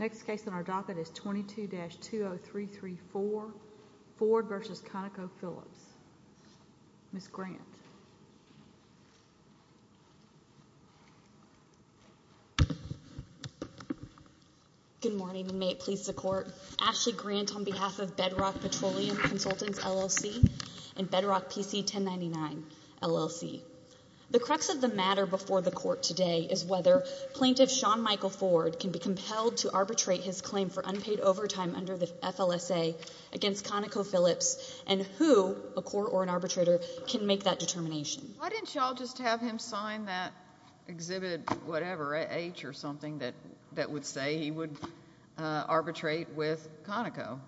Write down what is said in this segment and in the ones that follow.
Next case on our docket is 22-20334, Ford v. ConocoPhillips. Ms. Grant. Good morning and may it please the court. Ashley Grant on behalf of Bedrock Petroleum Consultants LLC and Bedrock PC 1099 LLC. The crux of the matter before the court today is whether Plaintiff Shawn Michael Ford can be compelled to arbitrate his claim for unpaid overtime under the FLSA against ConocoPhillips and who, a court or an arbitrator, can make that determination. Why didn't y'all just have him sign that exhibit whatever, H or something that would say he would arbitrate with Conoco?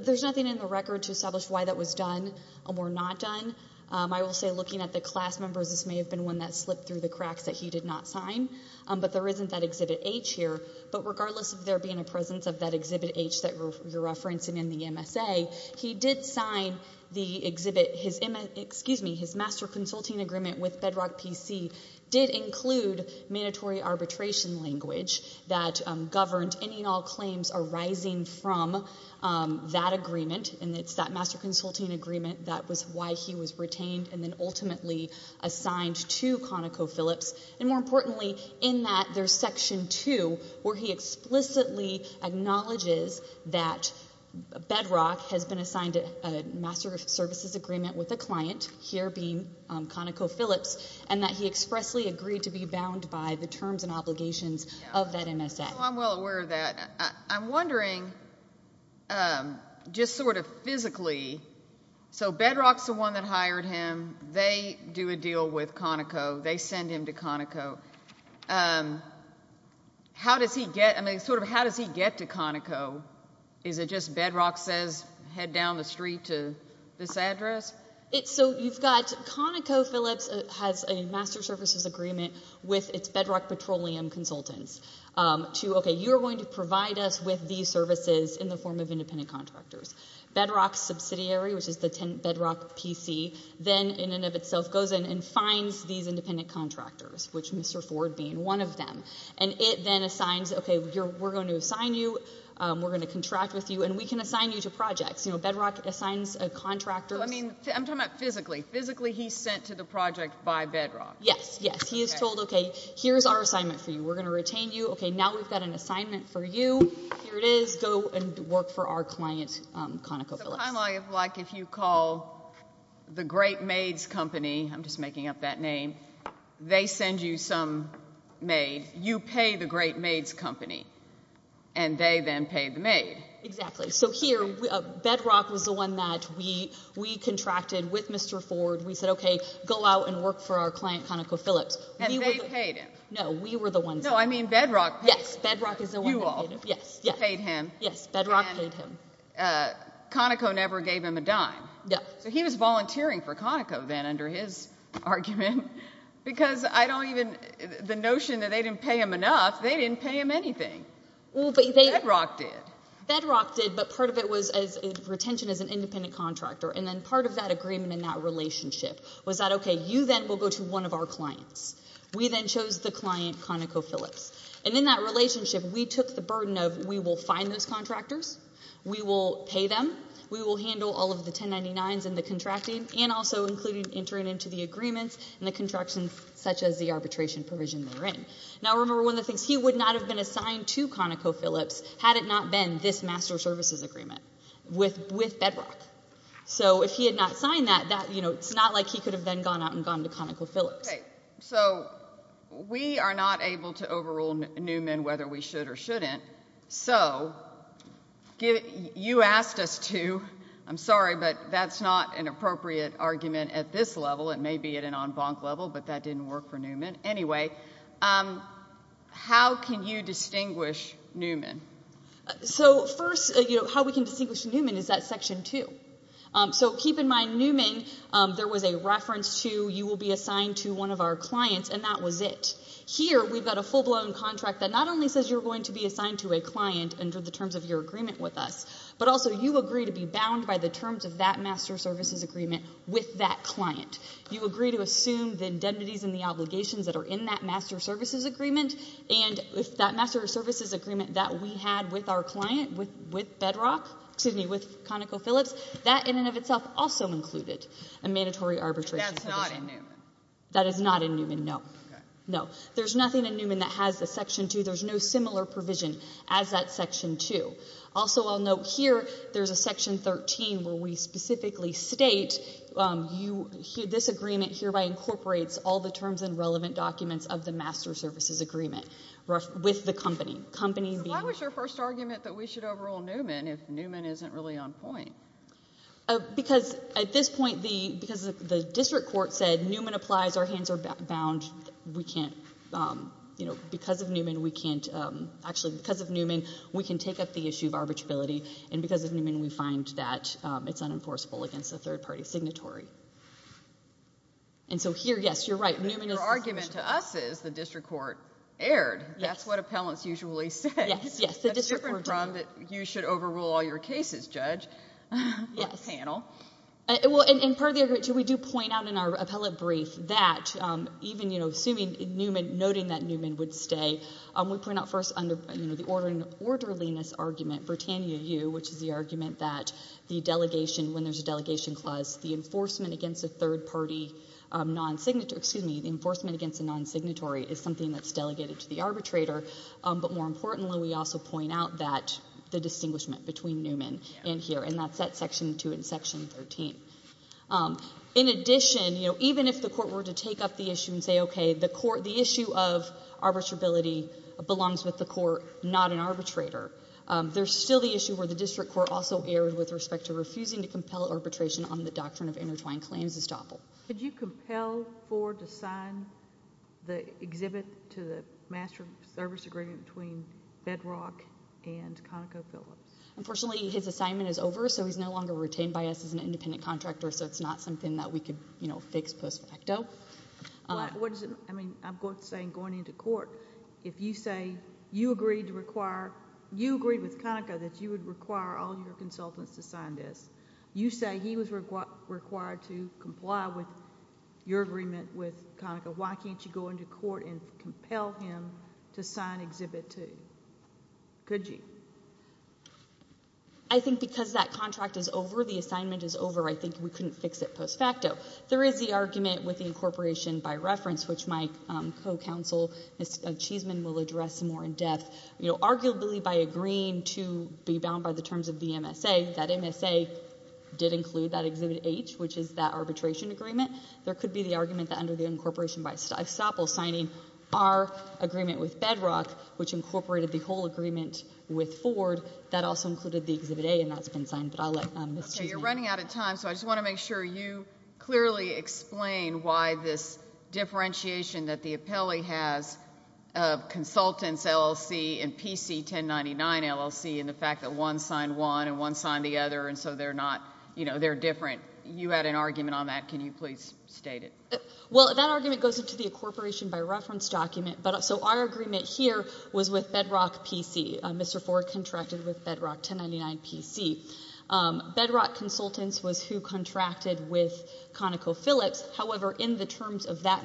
There's nothing in the record to establish why that was done or not done. I will say looking at the class members, this may have been one that slipped through the cracks that he did not sign, but there isn't that exhibit H here. But regardless of there being a presence of that exhibit H that you're referencing in the MSA, he did sign the exhibit. His master consulting agreement with Bedrock PC did include mandatory arbitration language that governed any and all claims arising from that agreement, and it's that master consulting agreement that was why he was retained and then ultimately assigned to ConocoPhillips. More importantly, in that, there's section two where he explicitly acknowledges that Bedrock has been assigned a master of services agreement with a client, here being ConocoPhillips, and that he expressly agreed to be bound by the terms and obligations of that MSA. I'm well aware of that. I'm wondering just sort of physically, so Bedrock's the one that they do a deal with Conoco. They send him to Conoco. How does he get, I mean, sort of how does he get to Conoco? Is it just Bedrock says head down the street to this address? So you've got ConocoPhillips has a master services agreement with its Bedrock Petroleum consultants to, okay, you're going to provide us with these services in the form of independent of itself goes in and finds these independent contractors, which Mr. Ford being one of them, and it then assigns, okay, we're going to assign you, we're going to contract with you, and we can assign you to projects. You know, Bedrock assigns a contractor. I mean, I'm talking about physically. Physically, he's sent to the project by Bedrock. Yes, yes. He is told, okay, here's our assignment for you. We're going to retain you. Okay, now we've got an assignment for you. Here it is. Go and work for our client, ConocoPhillips. It's kind of like if you call the Great Maids Company. I'm just making up that name. They send you some maid. You pay the Great Maids Company, and they then pay the maid. Exactly. So here, Bedrock was the one that we contracted with Mr. Ford. We said, okay, go out and work for our client, ConocoPhillips. And they paid him. No, we were the ones. No, I mean Bedrock paid him. Yes, Bedrock is the one who paid him. You all. Yes. You paid him. Yes, Bedrock paid him. Conoco never gave him a dime. No. So he was volunteering for Conoco then under his argument because I don't even, the notion that they didn't pay him enough, they didn't pay him anything. Bedrock did. Bedrock did, but part of it was retention as an independent contractor. And then part of that agreement in that relationship was that, okay, you then will go to one of our clients. We then chose the client, ConocoPhillips. And in that relationship, we took the burden of we will find those contractors, we will pay them, we will handle all of the 1099s and the contracting, and also including entering into the agreements and the contractions such as the arbitration provision they're in. Now remember one of the things, he would not have been assigned to ConocoPhillips had it not been this master services agreement with Bedrock. So if he had not signed that, it's not like he could have then gone out and gone to ConocoPhillips. Okay. So we are not able to overrule Newman whether we should or shouldn't. So you asked us to, I'm sorry, but that's not an appropriate argument at this level. It may be at an en banc level, but that didn't work for Newman. Anyway, how can you distinguish Newman? So first, you know, how we can distinguish Newman is that section two. So keep in mind Newman, there was a reference to you will be assigned to one of our clients, and that was it. Here, we've got a full-blown contract that not only says you're going to be assigned to a client under the terms of your agreement with us, but also you agree to be bound by the terms of that master services agreement with that client. You agree to assume the indemnities and the obligations that are in that master services agreement, and if that master services agreement that we had with our client, with Bedrock, excuse me, with a mandatory arbitration provision. That's not in Newman. That is not in Newman, no. No. There's nothing in Newman that has the section two. There's no similar provision as that section two. Also, I'll note here, there's a section 13 where we specifically state this agreement hereby incorporates all the terms and relevant documents of the master services agreement with the company. Why was your first argument that we should overrule Newman if Newman isn't really on point? Because at this point, because the district court said Newman applies, our hands are bound, we can't... because of Newman, we can't... actually, because of Newman, we can take up the issue of arbitrability, and because of Newman, we find that it's unenforceable against a third-party signatory. Here, yes, you're right. Newman is... Your argument to us is the district court erred. That's what appellants usually say. Yes. Yes. The district court...... said that you should overrule all your cases, Judge, with the panel. Yes. Well, in part of the agreement, too, we do point out in our appellate brief that even, you know, assuming Newman... noting that Newman would stay, we point out first under the orderliness argument, Britannia U, which is the argument that the delegation... when there's a delegation clause, the enforcement against a third-party non-signatory... excuse me, the enforcement against a non-signatory is something that's delegated to the arbitrator, but more importantly, we also point out that... the distinguishment between Newman and here, and that's at section 2 and section 13. In addition, you know, even if the court were to take up the issue and say, okay, the court... the issue of arbitrability belongs with the court, not an arbitrator, there's still the issue where the district court also erred with respect to refusing to compel arbitration on the doctrine of intertwined claims estoppel. Could you compel Ford to sign the exhibit to the master service agreement between Bedrock and ConocoPhillips? Unfortunately, his assignment is over, so he's no longer retained by us as an independent contractor, so it's not something that we could, you know, fix post facto. What does it... I mean, I'm saying going into court, if you say you agreed to require... you agreed with Conoco that you would require all your consultants to sign this, you say he was required to comply with your agreement with Conoco, why can't you go into court and compel him to sign exhibit 2? Could you? I think because that contract is over, the assignment is over, I think we couldn't fix it post facto. There is the argument with the incorporation by reference, which my co-counsel, Ms. Cheesman, will address more in depth. Arguably, by agreeing to be bound by the terms of the MSA, that MSA did include that exhibit H, which is that arbitration agreement. There could be the argument that under the incorporation by estoppel signing our agreement with Bedrock, which incorporated the whole agreement with Ford, that also included the exhibit A, and that's been signed, but I'll let Ms. Cheesman... You're running out of time, so I just want to make sure you clearly explain why this and PC 1099 LLC and the fact that one signed one and one signed the other, and so they're not, you know, they're different. You had an argument on that. Can you please state it? Well, that argument goes into the incorporation by reference document, so our agreement here was with Bedrock PC. Mr. Ford contracted with Bedrock 1099 PC. Bedrock Consultants was who contracted with ConocoPhillips, however, in the terms of that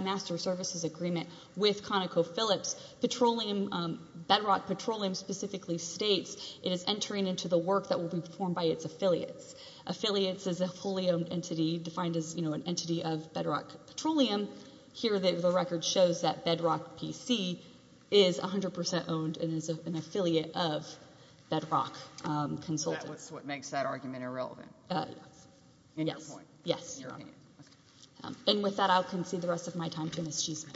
Bedrock Petroleum specifically states it is entering into the work that will be performed by its affiliates. Affiliates is a fully owned entity defined as, you know, an entity of Bedrock Petroleum. Here the record shows that Bedrock PC is 100 percent owned and is an affiliate of Bedrock Consultants. So that's what makes that argument irrelevant? Yes. In your opinion? Yes. Okay. And with that, I'll concede the rest of my time to Ms. Cheesman.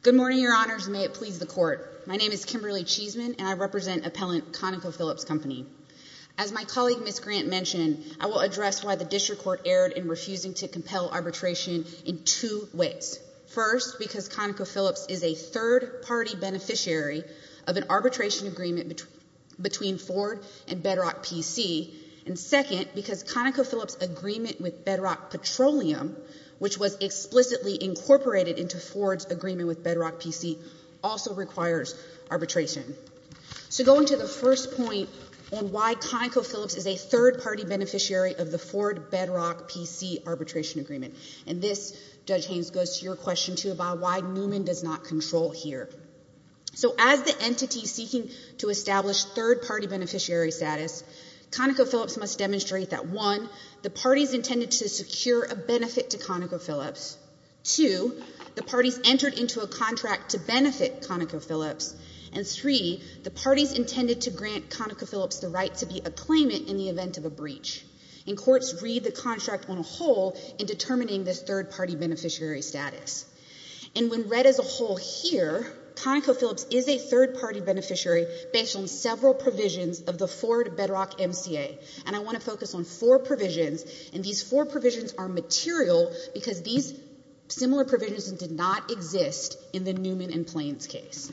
Good morning, Your Honors, and may it please the Court. My name is Kimberly Cheesman, and I represent appellant ConocoPhillips Company. As my colleague Ms. Grant mentioned, I will address why the district court erred in refusing to compel arbitration in two ways. First, because ConocoPhillips is a third-party beneficiary of an arbitration agreement between Ford and Bedrock PC, and second, because ConocoPhillips' agreement with Bedrock Petroleum, which was explicitly incorporated into Ford's agreement with Bedrock PC, also requires arbitration. So going to the first point on why ConocoPhillips is a third-party beneficiary of the Ford-Bedrock PC arbitration agreement, and this, Judge Haynes, goes to your question too about why Newman does not control here. So as the entity seeking to establish third-party beneficiary status, ConocoPhillips must demonstrate that one, the parties intended to secure a benefit to ConocoPhillips, two, the parties entered into a contract to benefit ConocoPhillips, and three, the parties intended to grant ConocoPhillips the right to be a claimant in the event of a breach. And courts read the contract on a whole in determining this third-party beneficiary status. And when read as a whole here, ConocoPhillips is a third-party beneficiary based on several provisions of the Ford-Bedrock MCA, and I want to focus on four provisions, and these four provisions are material because these similar provisions did not exist in the Newman and Plains case.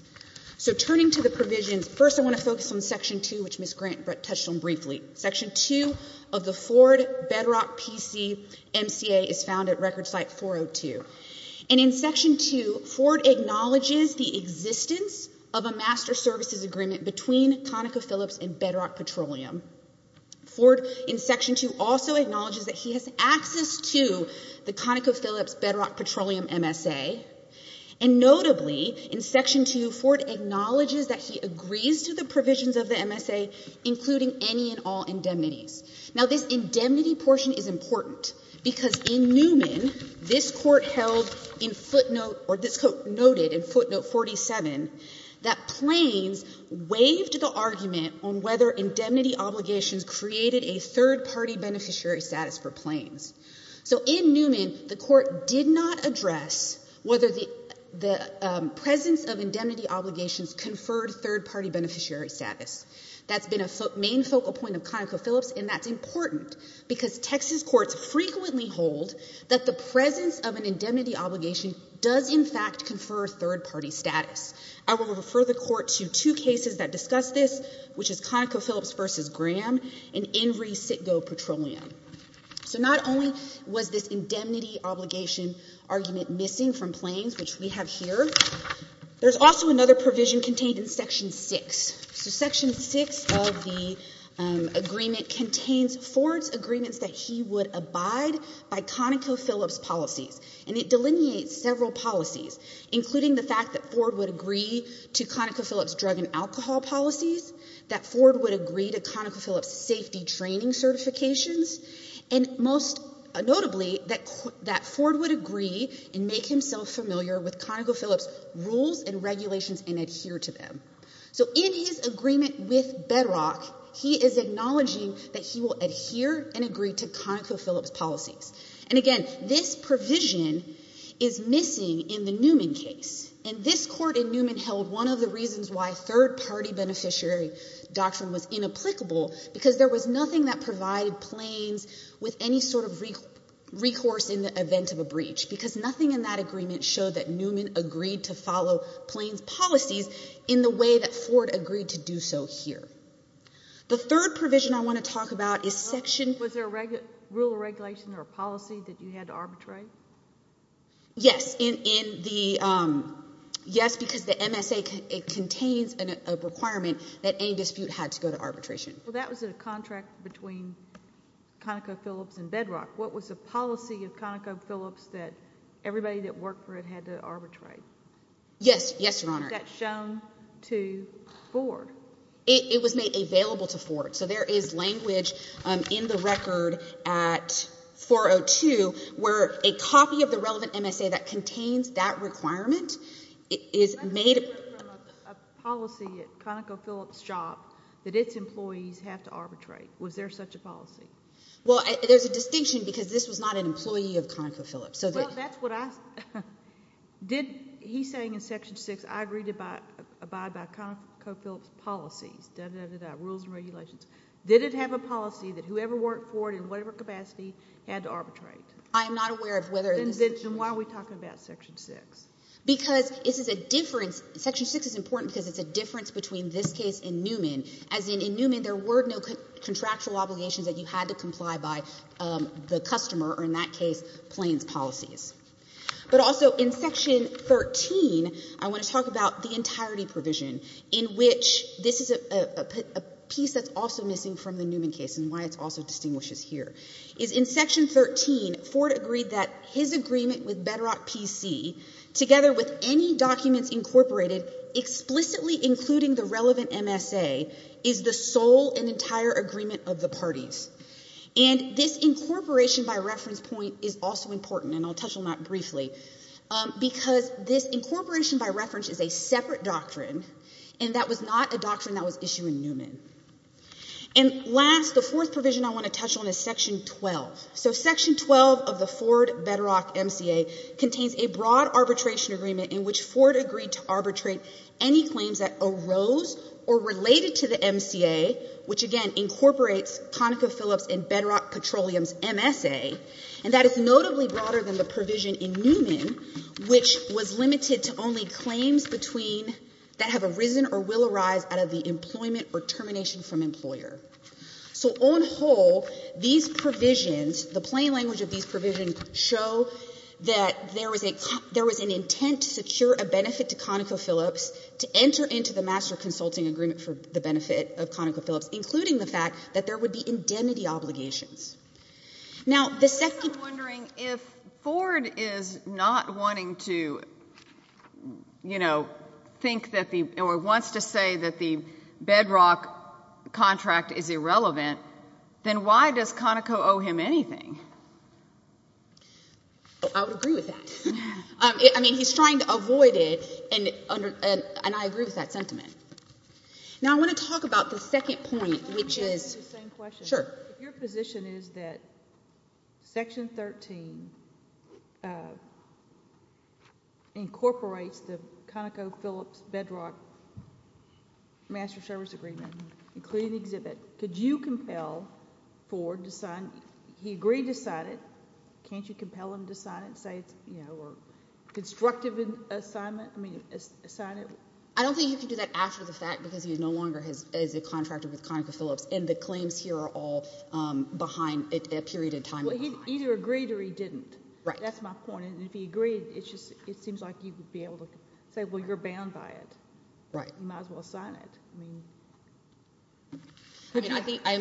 So turning to the provisions, first I want to focus on Section 2, which Ms. Grant touched on briefly. Section 2 of the Ford-Bedrock PC MCA is found at Record Site 402, and in Section 2, Ford acknowledges the existence of a master services agreement between ConocoPhillips and Bedrock Petroleum. Ford, in Section 2, also acknowledges that he has access to the ConocoPhillips-Bedrock Petroleum MSA, and notably, in Section 2, Ford acknowledges that he agrees to the provisions of the MSA, including any and all indemnities. Now this indemnity portion is important because in Newman, this Court held in footnote, or this Court noted in footnote 47, that Plains waived the argument on whether indemnity obligations created a third-party beneficiary status for Plains. So in Newman, the Court did not address whether the presence of indemnity obligations conferred a third-party beneficiary status. That's been a main focal point of ConocoPhillips, and that's important because Texas courts frequently hold that the presence of an indemnity obligation does, in fact, confer third-party status. I will refer the Court to two cases that discuss this, which is ConocoPhillips v. Graham and Invery-Sitgo Petroleum. So not only was this indemnity obligation argument missing from Plains, which we have here, there's also another provision contained in Section 6. So Section 6 of the agreement contains Ford's agreements that he would abide by ConocoPhillips policies, and it delineates several policies, including the fact that Ford would agree to ConocoPhillips drug and alcohol policies, that Ford would agree to ConocoPhillips safety training certifications, and most notably, that Ford would agree and make himself familiar with ConocoPhillips rules and regulations and adhere to them. So in his agreement with Bedrock, he is acknowledging that he will adhere and agree to ConocoPhillips policies. And again, this provision is missing in the Newman case, and this Court in Newman held one of the reasons why third-party beneficiary doctrine was inapplicable, because there was nothing that provided Plains with any sort of recourse in the event of a breach, because nothing in that agreement showed that Newman agreed to follow Plains policies in the way that Ford agreed to do so here. The third provision I want to talk about is Section — Was there a rule of regulation or a policy that you had to arbitrate? Yes, in the — yes, because the MSA, it contains a requirement that any dispute had to go to arbitration. Well, that was in a contract between ConocoPhillips and Bedrock. What was the policy of ConocoPhillips that everybody that worked for it had to arbitrate? Yes, yes, Your Honor. Is that shown to Ford? It was made available to Ford. So there is language in the record at 402 where a copy of the relevant MSA that contains that requirement is made — A policy at ConocoPhillips' job that its employees have to arbitrate. Was there such a policy? Well, there's a distinction, because this was not an employee of ConocoPhillips, so that — Well, that's what I — did — he's saying in Section 6, I agree to abide by ConocoPhillips' policies, dah, dah, dah, dah, rules and regulations. Did it have a policy that whoever worked for it in whatever capacity had to arbitrate? I am not aware of whether — Then why are we talking about Section 6? Because this is a difference — Section 6 is important because it's a difference between this case and Newman, as in, in Newman there were no contractual obligations that you had to comply by the customer, or in that case, Plains policies. But also in Section 13, I want to talk about the entirety provision in which — this is a piece that's also missing from the Newman case and why it also distinguishes here — is in Section 13, Ford agreed that his agreement with Bedrock PC, together with any documents incorporated explicitly including the relevant MSA, is the sole and entire agreement of the And this incorporation by reference point is also important, and I'll touch on that briefly, because this incorporation by reference is a separate doctrine, and that was not a doctrine that was issued in Newman. And last, the fourth provision I want to touch on is Section 12. So Section 12 of the Ford-Bedrock MCA contains a broad arbitration agreement in which Ford agreed to arbitrate any claims that arose or related to the MCA, which again incorporates ConocoPhillips and Bedrock Petroleum's MSA, and that is notably broader than the provision in Newman, which was limited to only claims between — that have arisen or will arise out of the employment or termination from employer. So on whole, these provisions, the plain language of these provisions, show that there was an intent to secure a benefit to ConocoPhillips to enter into the master consulting agreement for the benefit of ConocoPhillips, including the fact that there would be indemnity obligations. Now the — I'm just wondering if Ford is not wanting to, you know, think that the — or wants to say that the Bedrock contract is irrelevant, then why does Conoco owe him anything? I would agree with that. I mean, he's trying to avoid it, and I agree with that sentiment. Now I want to talk about the second point, which is — Can I just ask you the same question? Sure. If your position is that Section 13 incorporates the ConocoPhillips-Bedrock Master Service Agreement, including the exhibit, could you compel Ford to sign — he agreed to sign it. Can't you compel him to sign it, say it's, you know, a constructive assignment? I mean, sign it. I don't think you can do that after the fact, because he is no longer his — is a contractor with ConocoPhillips, and the claims here are all behind — a period of time behind. Well, he either agreed or he didn't. Right. That's my point. And if he agreed, it's just — it seems like you would be able to say, well, you're bound by it. Right. You might as well sign it. I mean — I mean, I think — Well,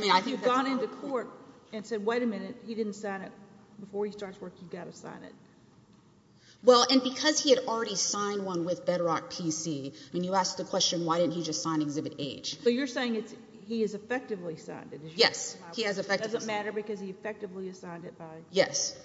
and because he had already signed one with Bedrock PC — I mean, you asked the question, why didn't he just sign Exhibit H. So you're saying it's — he has effectively signed it. Yes. He has effectively — It doesn't matter because he effectively signed it by — Yes.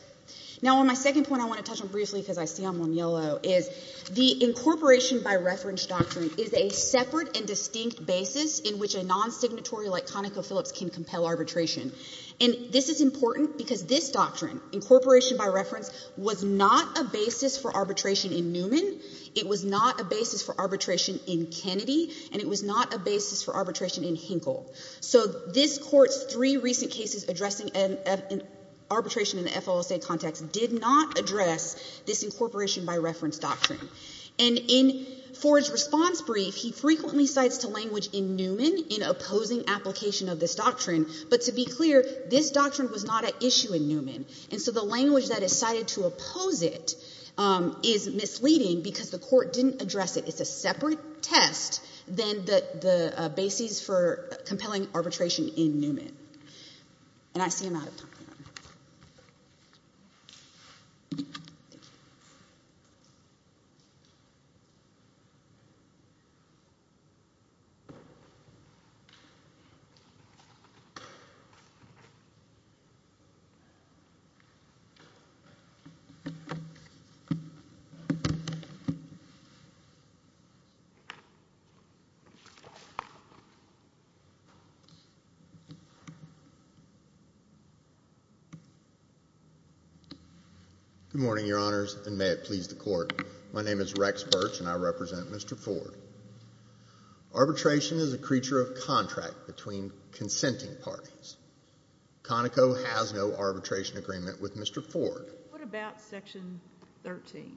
Now, on my second point, I want to touch on briefly, because I see I'm on yellow, is the incorporation by reference doctrine is a separate and distinct basis in which a non-signatory like ConocoPhillips can compel arbitration. And this is important because this doctrine, incorporation by reference, was not a basis for arbitration in Newman. It was not a basis for arbitration in Kennedy. And it was not a basis for arbitration in Hinkle. So this Court's three recent cases addressing arbitration in the FLSA context did not address this incorporation by reference doctrine. And in Ford's response brief, he frequently cites to language in Newman in opposing application of this doctrine. But to be clear, this doctrine was not an issue in Newman. And so the language that is cited to oppose it is misleading because the Court didn't address it. It's a separate test than the basis for compelling arbitration in Newman. And I see I'm out of time. Good morning, Your Honors, and may it please the Court. My name is Rex Birch, and I represent Mr. Ford. Arbitration is a creature of contract between consenting parties. Conoco has no arbitration agreement with Mr. Ford. What about Section 13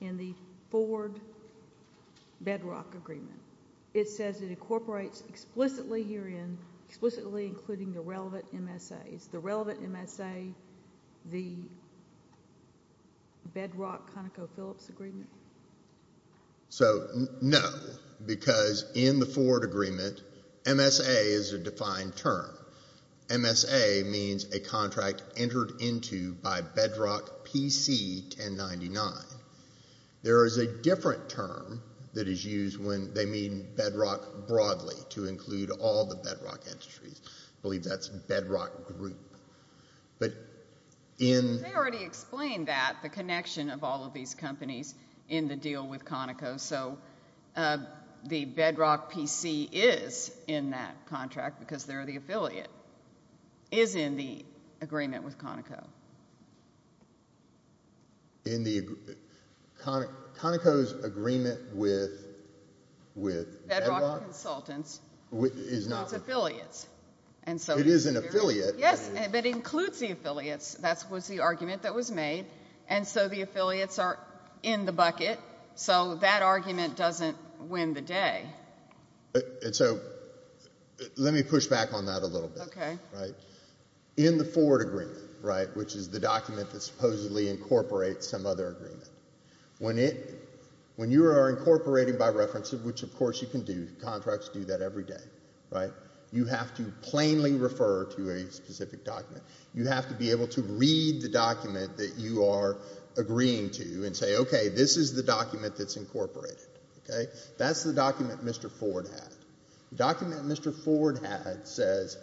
in the Ford-Bedrock agreement? It says it incorporates explicitly herein, explicitly including the relevant MSAs. The relevant MSA, the Bedrock-ConocoPhillips agreement? So, no, because in the Ford agreement, MSA is a defined term. MSA means a contract entered into by Bedrock PC 1099. There is a different term that is used when they mean Bedrock broadly to include all the Bedrock industries. I believe that's Bedrock group. They already explained that, the connection of all of these companies in the deal with Conoco, so the Bedrock PC is in that contract because they're the affiliate, is in the agreement with Conoco. Conoco's agreement with Bedrock consultants is not affiliates. And so it is an affiliate. Yes, but it includes the affiliates. That was the argument that was made. And so the affiliates are in the bucket. So that argument doesn't win the day. And so let me push back on that a little bit. In the Ford agreement, which is the document that supposedly incorporates some other agreement, when you are incorporating by reference, which of course you can do, contracts do that every day, right? You have to plainly refer to a specific document. You have to be able to read the document that you are agreeing to and say, okay, this is the document that's incorporated. That's the document Mr. Ford had. The document Mr. Ford had says,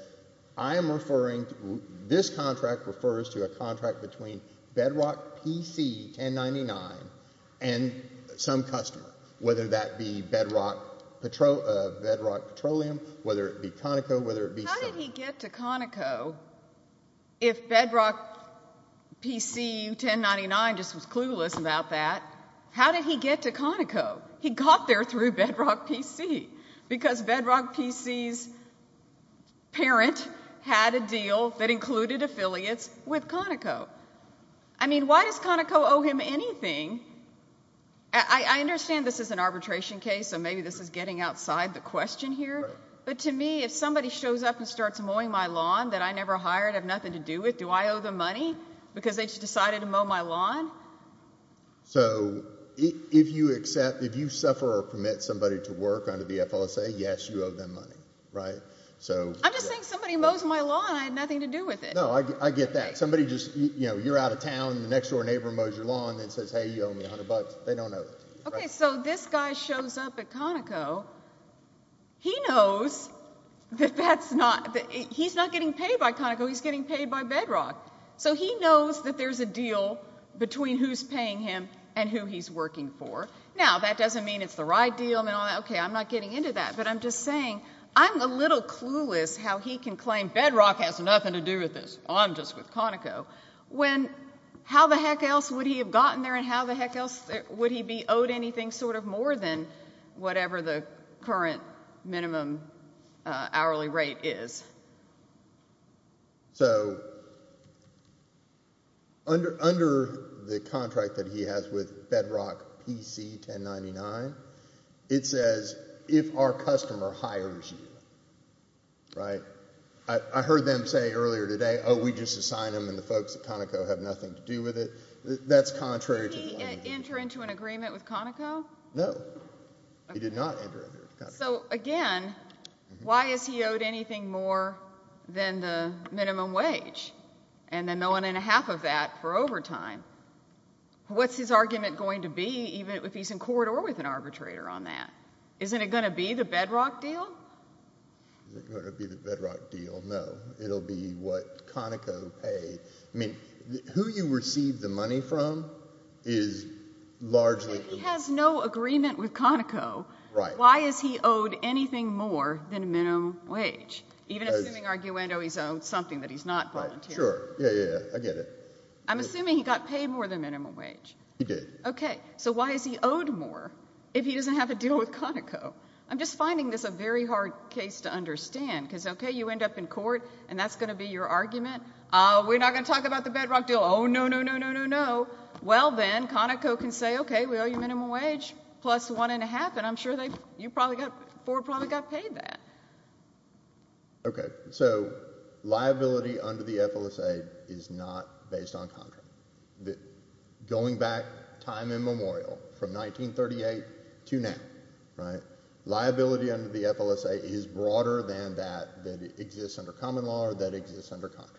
I am referring, this contract refers to a contract between Bedrock PC 1099 and some customer, whether that be Bedrock Petroleum, whether it be Conoco, whether it be... How did he get to Conoco if Bedrock PC 1099 just was clueless about that? How did he get to Conoco? He got there through Bedrock PC because Bedrock PC's parent had a deal that included affiliates with Conoco. I mean, why does Conoco owe him anything? I understand this is an arbitration case, so maybe this is getting outside the question here, but to me, if somebody shows up and starts mowing my lawn that I never hired, I have nothing to do with, do I owe them money because they just decided to mow my lawn? So if you accept, if you suffer or permit somebody to work under the FLSA, yes, you owe them money, right? I'm just saying somebody mows my lawn, I had nothing to do with it. No, I get that. Somebody just, you know, you're out of town and the next door neighbor mows your lawn and says, hey, you owe me a hundred bucks. They don't owe that to you, right? Okay, so this guy shows up at Conoco, he knows that that's not, that he's not getting paid by Conoco, he's getting paid by Bedrock. So he knows that there's a deal between who's paying him and who he's working for. Now, that doesn't mean it's the right deal and all that, okay, I'm not getting into that, but I'm just saying I'm a little clueless how he can claim Bedrock has nothing to do with this, I'm just with Conoco, when, how the heck else would he have gotten there and how the heck else would he be owed anything sort of more than whatever the current minimum hourly rate is? So under the contract that he has with Bedrock PC 1099, it says if our customer hires you, right? I heard them say earlier today, oh, we just assign them and the folks at Conoco have nothing to do with it. That's contrary to the law. Did he enter into an agreement with Conoco? No, he did not enter into an agreement with Conoco. So again, why is he owed anything more than the minimum wage and then the one and a half of that for overtime? What's his argument going to be even if he's in court or with an arbitrator on that? Isn't it going to be the Bedrock deal? Is it going to be the Bedrock deal? No. It'll be what Conoco paid. I mean, who you receive the money from is largely- If he has no agreement with Conoco, why is he owed anything more than minimum wage? Even assuming, arguendo, he's owed something that he's not volunteering. Sure. Yeah, yeah, yeah. I get it. I'm assuming he got paid more than minimum wage. He did. Okay. So why is he owed more if he doesn't have a deal with Conoco? I'm just finding this a very hard case to understand because, okay, you end up in court and that's going to be your argument. We're not going to talk about the Bedrock deal. Oh, no, no, no, no, no, no. Well then, Conoco can say, okay, we owe you minimum wage plus the one and a half and I'm sure Ford probably got paid that. Okay. So liability under the FLSA is not based on contract. Going back time immemorial from 1938 to now, liability under the FLSA is broader than that that exists under common law or that exists under contract.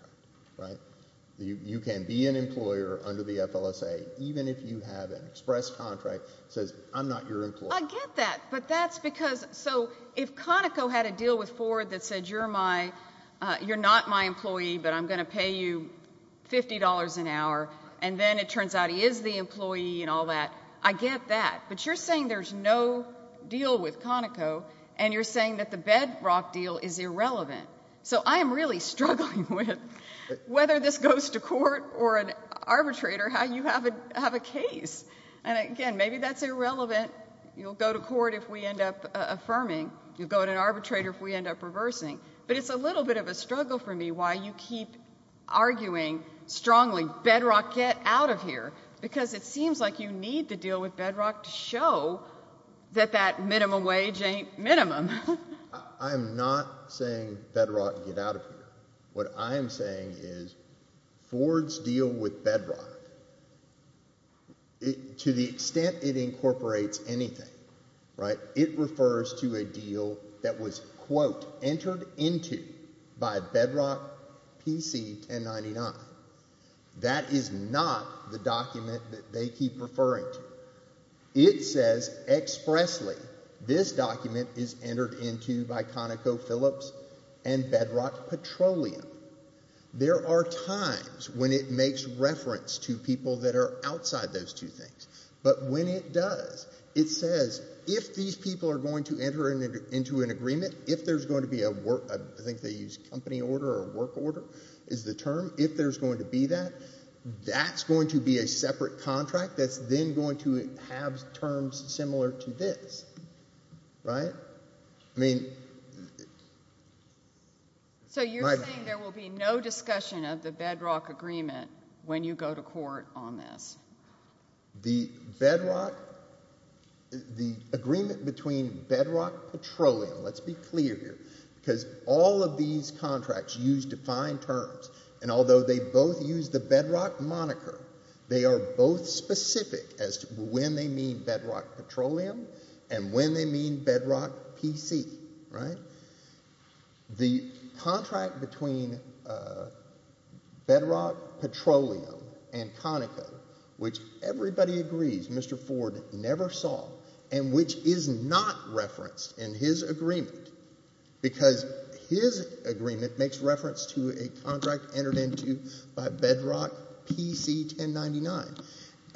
You can be an employer under the FLSA even if you have an express contract that says, I'm not your employer. I get that, but that's because... So if Conoco had a deal with Ford that said, you're not my employee, but I'm going to pay you $50 an hour and then it turns out he is the employee and all that. I get that, but you're saying there's no deal with Conoco and you're saying that the Bedrock deal is irrelevant. So I am really struggling with whether this goes to court or an arbitrator, how you have a case. Again, maybe that's irrelevant. You'll go to court if we end up affirming. You'll go to an arbitrator if we end up reversing, but it's a little bit of a struggle for me why you keep arguing strongly, Bedrock, get out of here, because it seems like you need to deal with Bedrock to show that that minimum wage ain't minimum. I'm not saying Bedrock, get out of here. What I'm saying is Ford's deal with Bedrock, to the extent it incorporates anything, it refers to a deal that was, quote, entered into by Bedrock PC 1099. That is not the document that they keep referring to. It says expressly this document is entered into by ConocoPhillips and Bedrock Petroleum. There are times when it makes reference to people that are outside those two things, but when it does, it says if these people are going to enter into an agreement, if there's going to be a work, I think they use company order or work order is the term, if there's going to be that, that's going to be a separate contract that's then going to have terms similar to this. Right? I mean... So you're saying there will be no discussion of the Bedrock agreement when you go to court on this? The Bedrock, the agreement between Bedrock Petroleum, let's be clear here, because all of these contracts use defined terms, and although they both use the Bedrock moniker, they are both specific as to when they mean Bedrock Petroleum and when they mean Bedrock PC, right? The contract between Bedrock Petroleum and Conoco, which everybody agrees Mr. Ford never saw and which is not referenced in his agreement, because his agreement makes reference to a contract entered into by Bedrock PC 1099,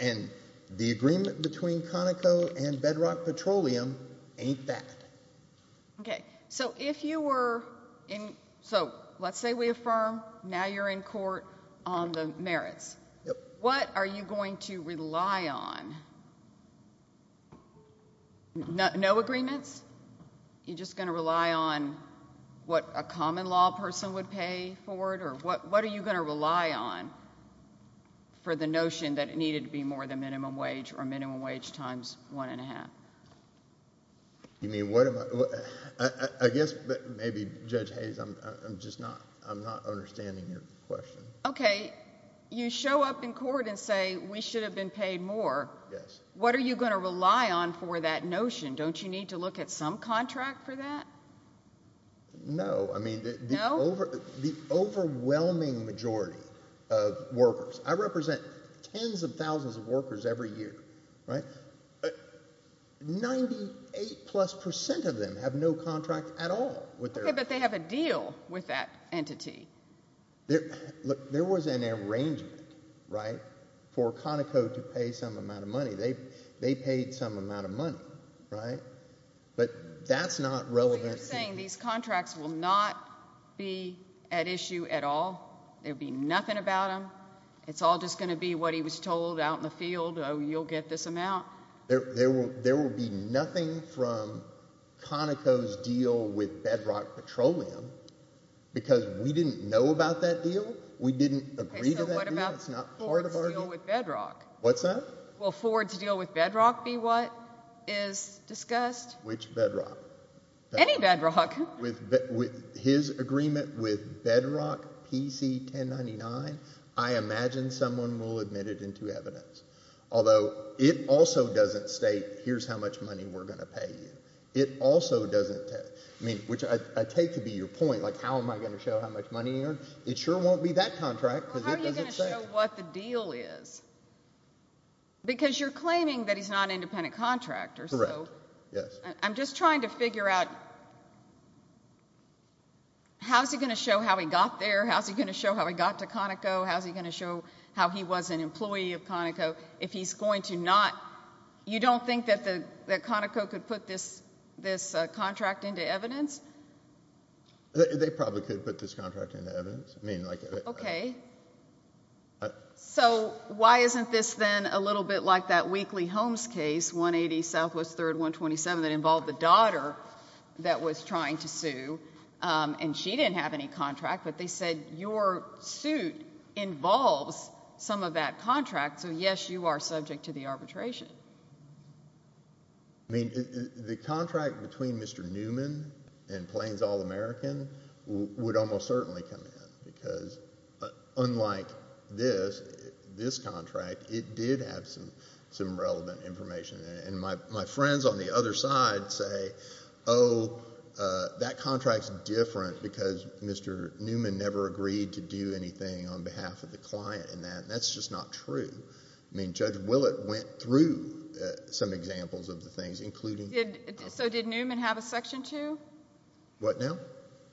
and the agreement between Conoco and Bedrock Petroleum ain't that. Okay. So if you were in... So let's say we affirm, now you're in court on the merits. What are you going to rely on? No agreements? You're just going to rely on what a common law person would pay for it, or what are you going to rely on for the notion that it needed to be more than minimum wage or minimum wage times one and a half? You mean what am I... I guess maybe Judge Hayes, I'm just not... I'm not understanding your question. Okay. You show up in court and say, we should have been paid more. What are you going to rely on for that notion? Don't you need to look at some contract for that? No. Okay, but they have a deal with that entity. There was an arrangement, right, for Conoco to pay some amount of money. They paid some amount of money, right? But that's not relevant to... What you're saying, these contracts will not be at issue at all? There'll be nothing about them? It's all just going to be what he was told out in the field, you'll get this amount? There will be nothing from Conoco's deal with Bedrock Petroleum because we didn't know about that deal. We didn't agree to that deal. It's not part of our deal. Okay, so what about Ford's deal with Bedrock? What's that? Will Ford's deal with Bedrock be what is discussed? Which Bedrock? Any Bedrock. With his agreement with Bedrock PC 1099, I imagine someone will admit it into evidence. Although, it also doesn't state, here's how much money we're going to pay you. It also doesn't... I mean, which I take to be your point, like how am I going to show how much money you earn? It sure won't be that contract because it doesn't say it. Well, how are you going to show what the deal is? Because you're claiming that he's not an independent contractor, so... Correct, yes. I'm just trying to figure out, how's he going to show how he got there? How's he going to show how he got to Conoco? How's he going to show how he was an employee of Conoco? If he's going to not... You don't think that Conoco could put this contract into evidence? They probably could put this contract into evidence. Okay, so why isn't this then a little bit like that Weekly Homes case, 180 Southwest 3rd, 127, that involved the daughter that was trying to sue, and she didn't have any contract, but they said your suit involves some of that contract, so yes, you are subject to the arbitration. I mean, the contract between Mr. Newman and Plains All-American would almost certainly come in, because unlike this, this contract, it did have some relevant information. And my friends on the other side say, oh, that contract's different, because Mr. Newman never agreed to do anything on behalf of the client, and that's just not true. I mean, Judge Willett went through some examples of the things, including... So did Newman have a Section 2? What now?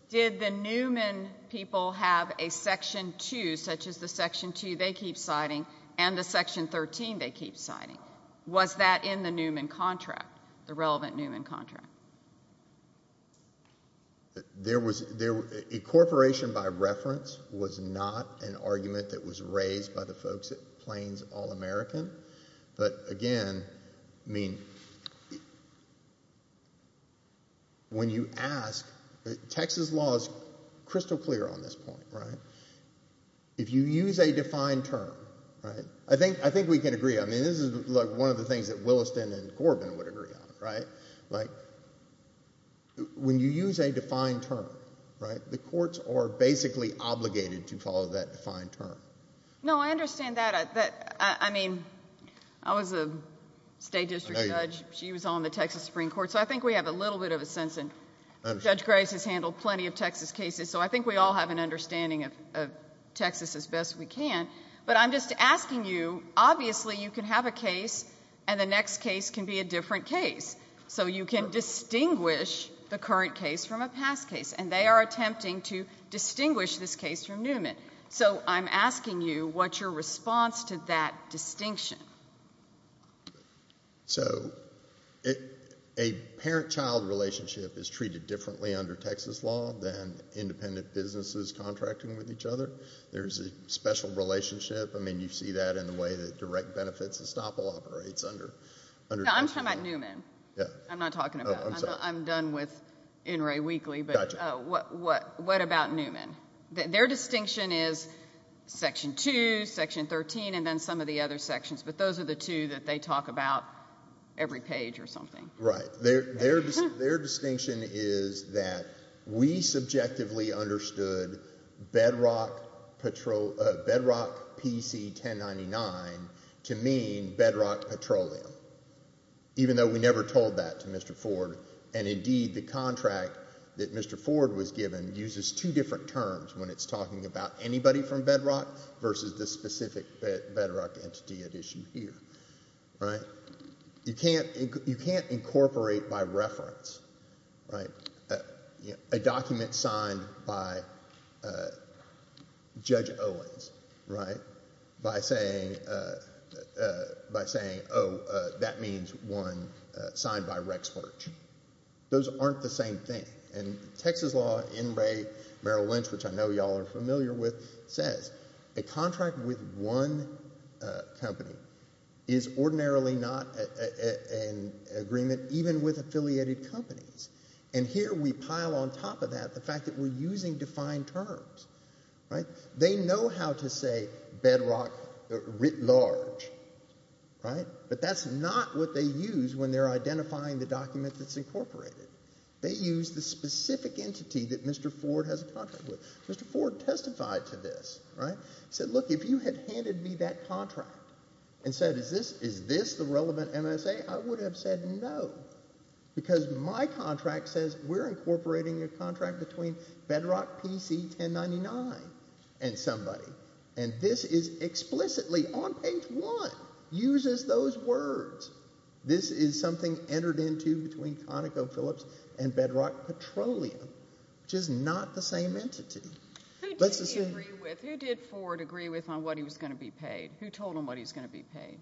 Did the Newman people have a Section 2, such as the Section 2 they keep citing, and the Section 13 they keep citing? Was that in the Newman contract, the relevant Newman contract? There was... Incorporation by reference was not an argument that was raised by the folks at Plains All-American, but again, I mean, when you ask... Texas law is crystal clear on this point, right? If you use a defined term, right, I think we can agree on it. I mean, this is one of the things that Williston and Corbin would agree on, right? When you use a defined term, right, the courts are basically obligated to follow that defined term. No, I understand that. I mean, I was a state district judge. She was on the Texas Supreme Court, so I think we have a little bit of a sense, and Judge we can, but I'm just asking you, obviously you can have a case, and the next case can be a different case. So you can distinguish the current case from a past case, and they are attempting to distinguish this case from Newman. So I'm asking you, what's your response to that distinction? So a parent-child relationship is treated differently under Texas law than independent businesses contracting with each other. There's a special relationship. I mean, you see that in the way that direct benefits estoppel operates under Texas law. No, I'm talking about Newman. I'm not talking about, I'm done with NRA Weekly, but what about Newman? Their distinction is Section 2, Section 13, and then some of the other sections, but those are the two that they talk about every page or something. Right, their distinction is that we subjectively understood Bedrock PC-1099 to mean Bedrock Petroleum, even though we never told that to Mr. Ford, and indeed the contract that Mr. Ford was given uses two different terms when it's talking about anybody from Bedrock versus the specific Bedrock entity at issue here, right? So you can't incorporate by reference, right, a document signed by Judge Owens, right, by saying, oh, that means one signed by Rex Burch. Those aren't the same thing, and Texas law, NRA, Merrill Lynch, which I know y'all are not in agreement, even with affiliated companies, and here we pile on top of that the fact that we're using defined terms, right? They know how to say Bedrock writ large, right, but that's not what they use when they're identifying the document that's incorporated. They use the specific entity that Mr. Ford has a contract with. Mr. Ford testified to this, right, said, look, if you had handed me that contract and said, is this the relevant MSA, I would have said no, because my contract says we're incorporating a contract between Bedrock PC 1099 and somebody, and this is explicitly on page one uses those words. This is something entered into between ConocoPhillips and Bedrock Petroleum, which is not the same entity. Who did Ford agree with on what he was going to be paid? Who told him what he was going to be paid?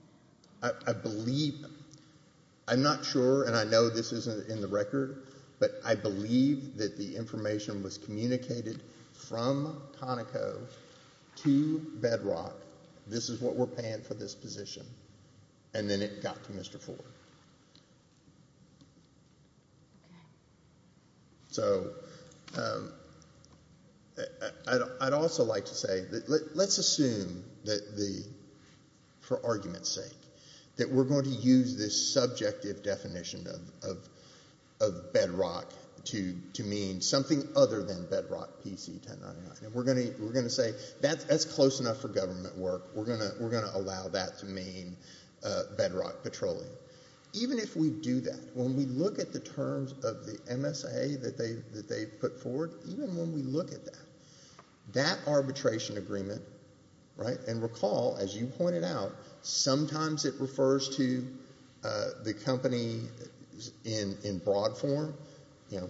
I believe, I'm not sure, and I know this isn't in the record, but I believe that the information was communicated from Conoco to Bedrock, this is what we're paying for this position, and then it got to Mr. Ford. So, I'd also like to say, let's assume that the, for argument's sake, that we're going to use this subjective definition of Bedrock to mean something other than Bedrock PC 1099, and we're going to say that's close enough for government work, we're going to allow that to mean Bedrock Petroleum. Even if we do that, when we look at the terms of the MSA that they put forward, even when we look at that, that arbitration agreement, right, and recall, as you pointed out, sometimes it refers to the company in broad form, you know,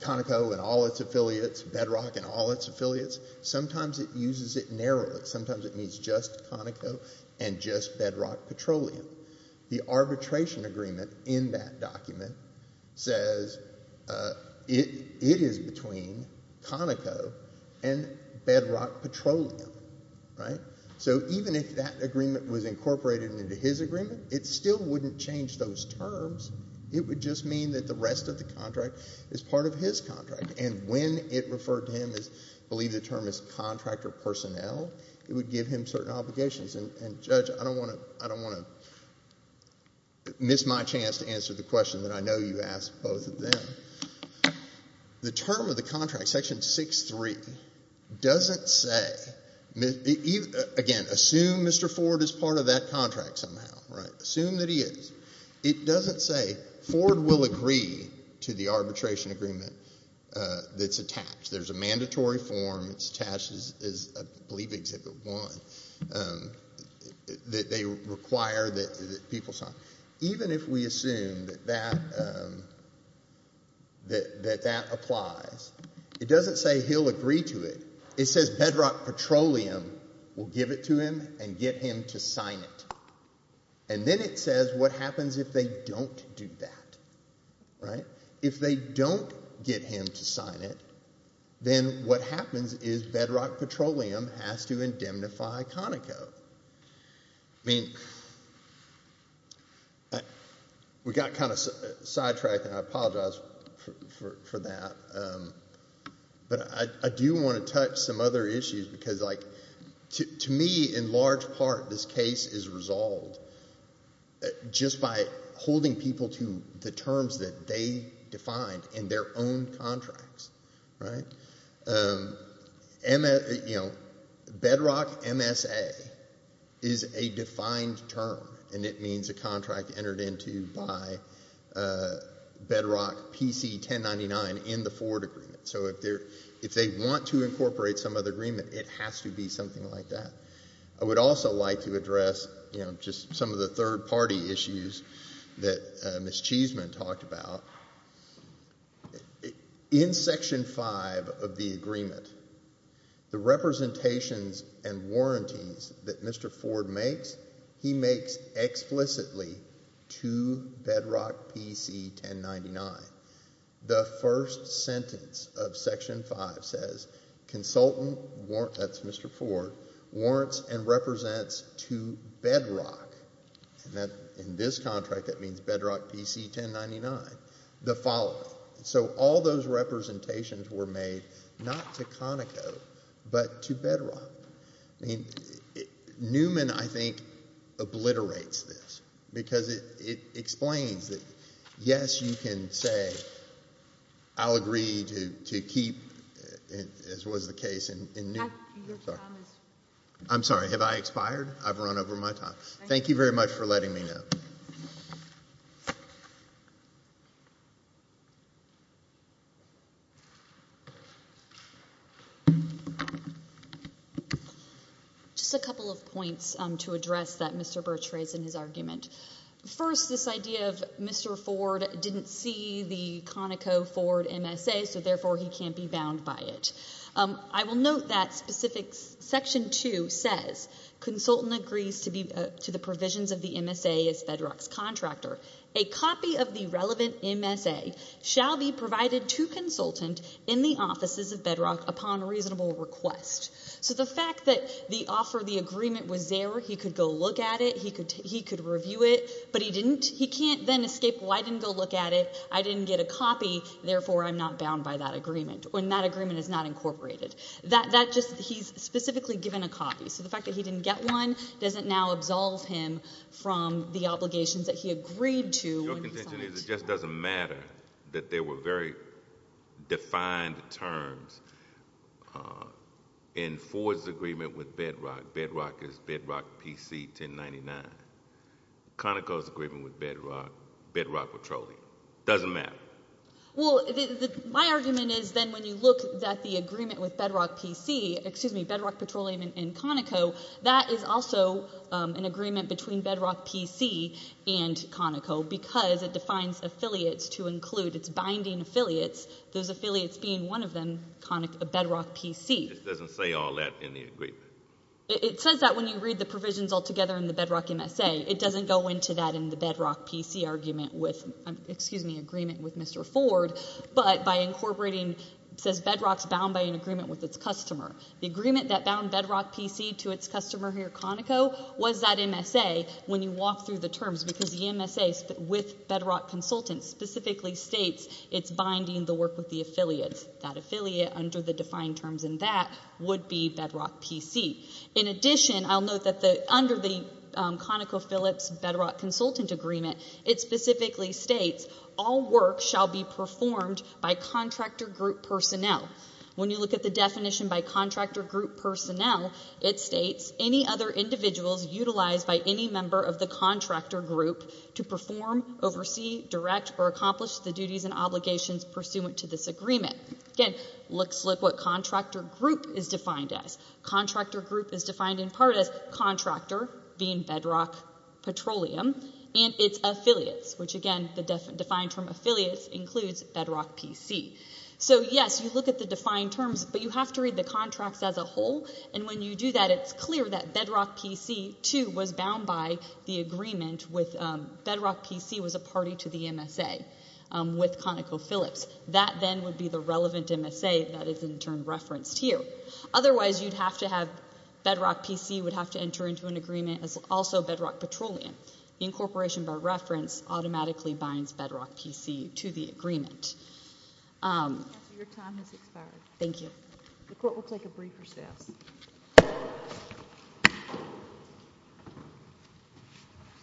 Conoco and all its affiliates, Bedrock and all its affiliates, sometimes it uses it narrowly, sometimes it means just Conoco and just Bedrock Petroleum. The arbitration agreement in that document says it is between Conoco and Bedrock Petroleum, right? So, even if that agreement was incorporated into his agreement, it still wouldn't change those terms, it would just mean that the rest of the contract is part of his contract, and when it referred to him as, I believe the term is contractor personnel, it would give him certain obligations, and Judge, I don't want to miss my chance to answer the question that I know you asked both of them. The term of the contract, section 6-3, doesn't say, again, assume Mr. Ford is part of that contract somehow, right, assume that he is, it doesn't say Ford will agree to the arbitration agreement that's attached. There's a mandatory form that's attached, I believe Exhibit 1, that they require that people sign. Even if we assume that that applies, it doesn't say he'll agree to it. It says Bedrock Petroleum will give it to him and get him to sign it, and then it says what happens if they don't do that, right? If they don't get him to sign it, then what happens is Bedrock Petroleum has to indemnify Conoco. I mean, we got kind of sidetracked, and I apologize for that, but I do want to touch some other issues, because to me, in large part, this case is resolved just by holding people to the terms that they defined in their own contracts, right? Bedrock MSA is a defined term, and it means a contract entered into by Bedrock PC-1099 in the Ford agreement. So if they want to incorporate some other agreement, it has to be something like that. I would also like to address just some of the third-party issues that Ms. Cheesman talked about. In Section 5 of the agreement, the representations and warranties that Mr. Ford makes, he makes explicitly to Bedrock PC-1099. The first sentence of Section 5 says, consultant warrants, that's Mr. Ford, warrants and represents to Bedrock, and in this contract, that means Bedrock PC-1099, the following. So all those representations were made not to Conoco, but to Bedrock. Newman, I think, obliterates this, because it explains that, yes, you can say, I'll agree to keep, as was the case in Newman. I'm sorry, have I expired? I've run over my time. Thank you very much for letting me know. Just a couple of points to address that Mr. Birch raised in his argument. First, this idea of Mr. Ford didn't see the Conoco Ford MSA, so therefore he can't be bound by it. I will note that specific Section 2 says, consultant agrees to the provisions of the MSA as Bedrock's contractor. A copy of the relevant MSA shall be provided to consultant in the offices of Bedrock upon reasonable request. So the fact that the offer, the agreement was there, he could go look at it, he could review it, but he didn't, he can't then escape, well, I didn't go look at it, I didn't get a copy, therefore I'm not bound by that agreement, and that agreement is not incorporated. That just, he's specifically given a copy, so the fact that he didn't get one doesn't now absolve him from the obligations that he agreed to. Your contention is it just doesn't matter that there were very defined terms in Ford's agreement with Bedrock, Bedrock is Bedrock PC 1099, Conoco's agreement with Bedrock, Bedrock Petroleum, doesn't matter. Well, my argument is then when you look at the agreement with Bedrock PC, excuse me, Bedrock Petroleum and Conoco, that is also an agreement between Bedrock PC and Conoco because it defines affiliates to include, it's binding affiliates, those affiliates being one of them, Conoco, Bedrock PC. It just doesn't say all that in the agreement. It says that when you read the provisions all together in the Bedrock MSA, it doesn't go into that in the Bedrock PC argument with, excuse me, agreement with Mr. Ford, but by incorporating, it says Bedrock's bound by an agreement with its customer. The agreement that bound Bedrock PC to its customer here, Conoco, was that MSA when you walk through the terms because the MSA with Bedrock Consultants specifically states it's binding the work with the affiliates, that affiliate under the defined terms in that would be Bedrock PC. In addition, I'll note that under the ConocoPhillips Bedrock Consultant Agreement, it specifically states all work shall be performed by contractor group personnel. When you look at the definition by contractor group personnel, it states any other individuals utilized by any member of the contractor group to perform, oversee, direct, or accomplish the duties and obligations pursuant to this agreement. Again, looks like what contractor group is defined as. Contractor group is defined in part as contractor, being Bedrock Petroleum, and its affiliates, which again, the defined term affiliates includes Bedrock PC. So yes, you look at the defined terms, but you have to read the contracts as a whole, and when you do that, it's clear that Bedrock PC, too, was bound by the agreement with Bedrock PC was a party to the MSA with ConocoPhillips. That then would be the relevant MSA that is in turn referenced here. Otherwise, you'd have to have Bedrock PC would have to enter into an agreement as also Bedrock Petroleum. The incorporation by reference automatically binds Bedrock PC to the agreement. Your time has expired. Thank you. The court will take a brief recess.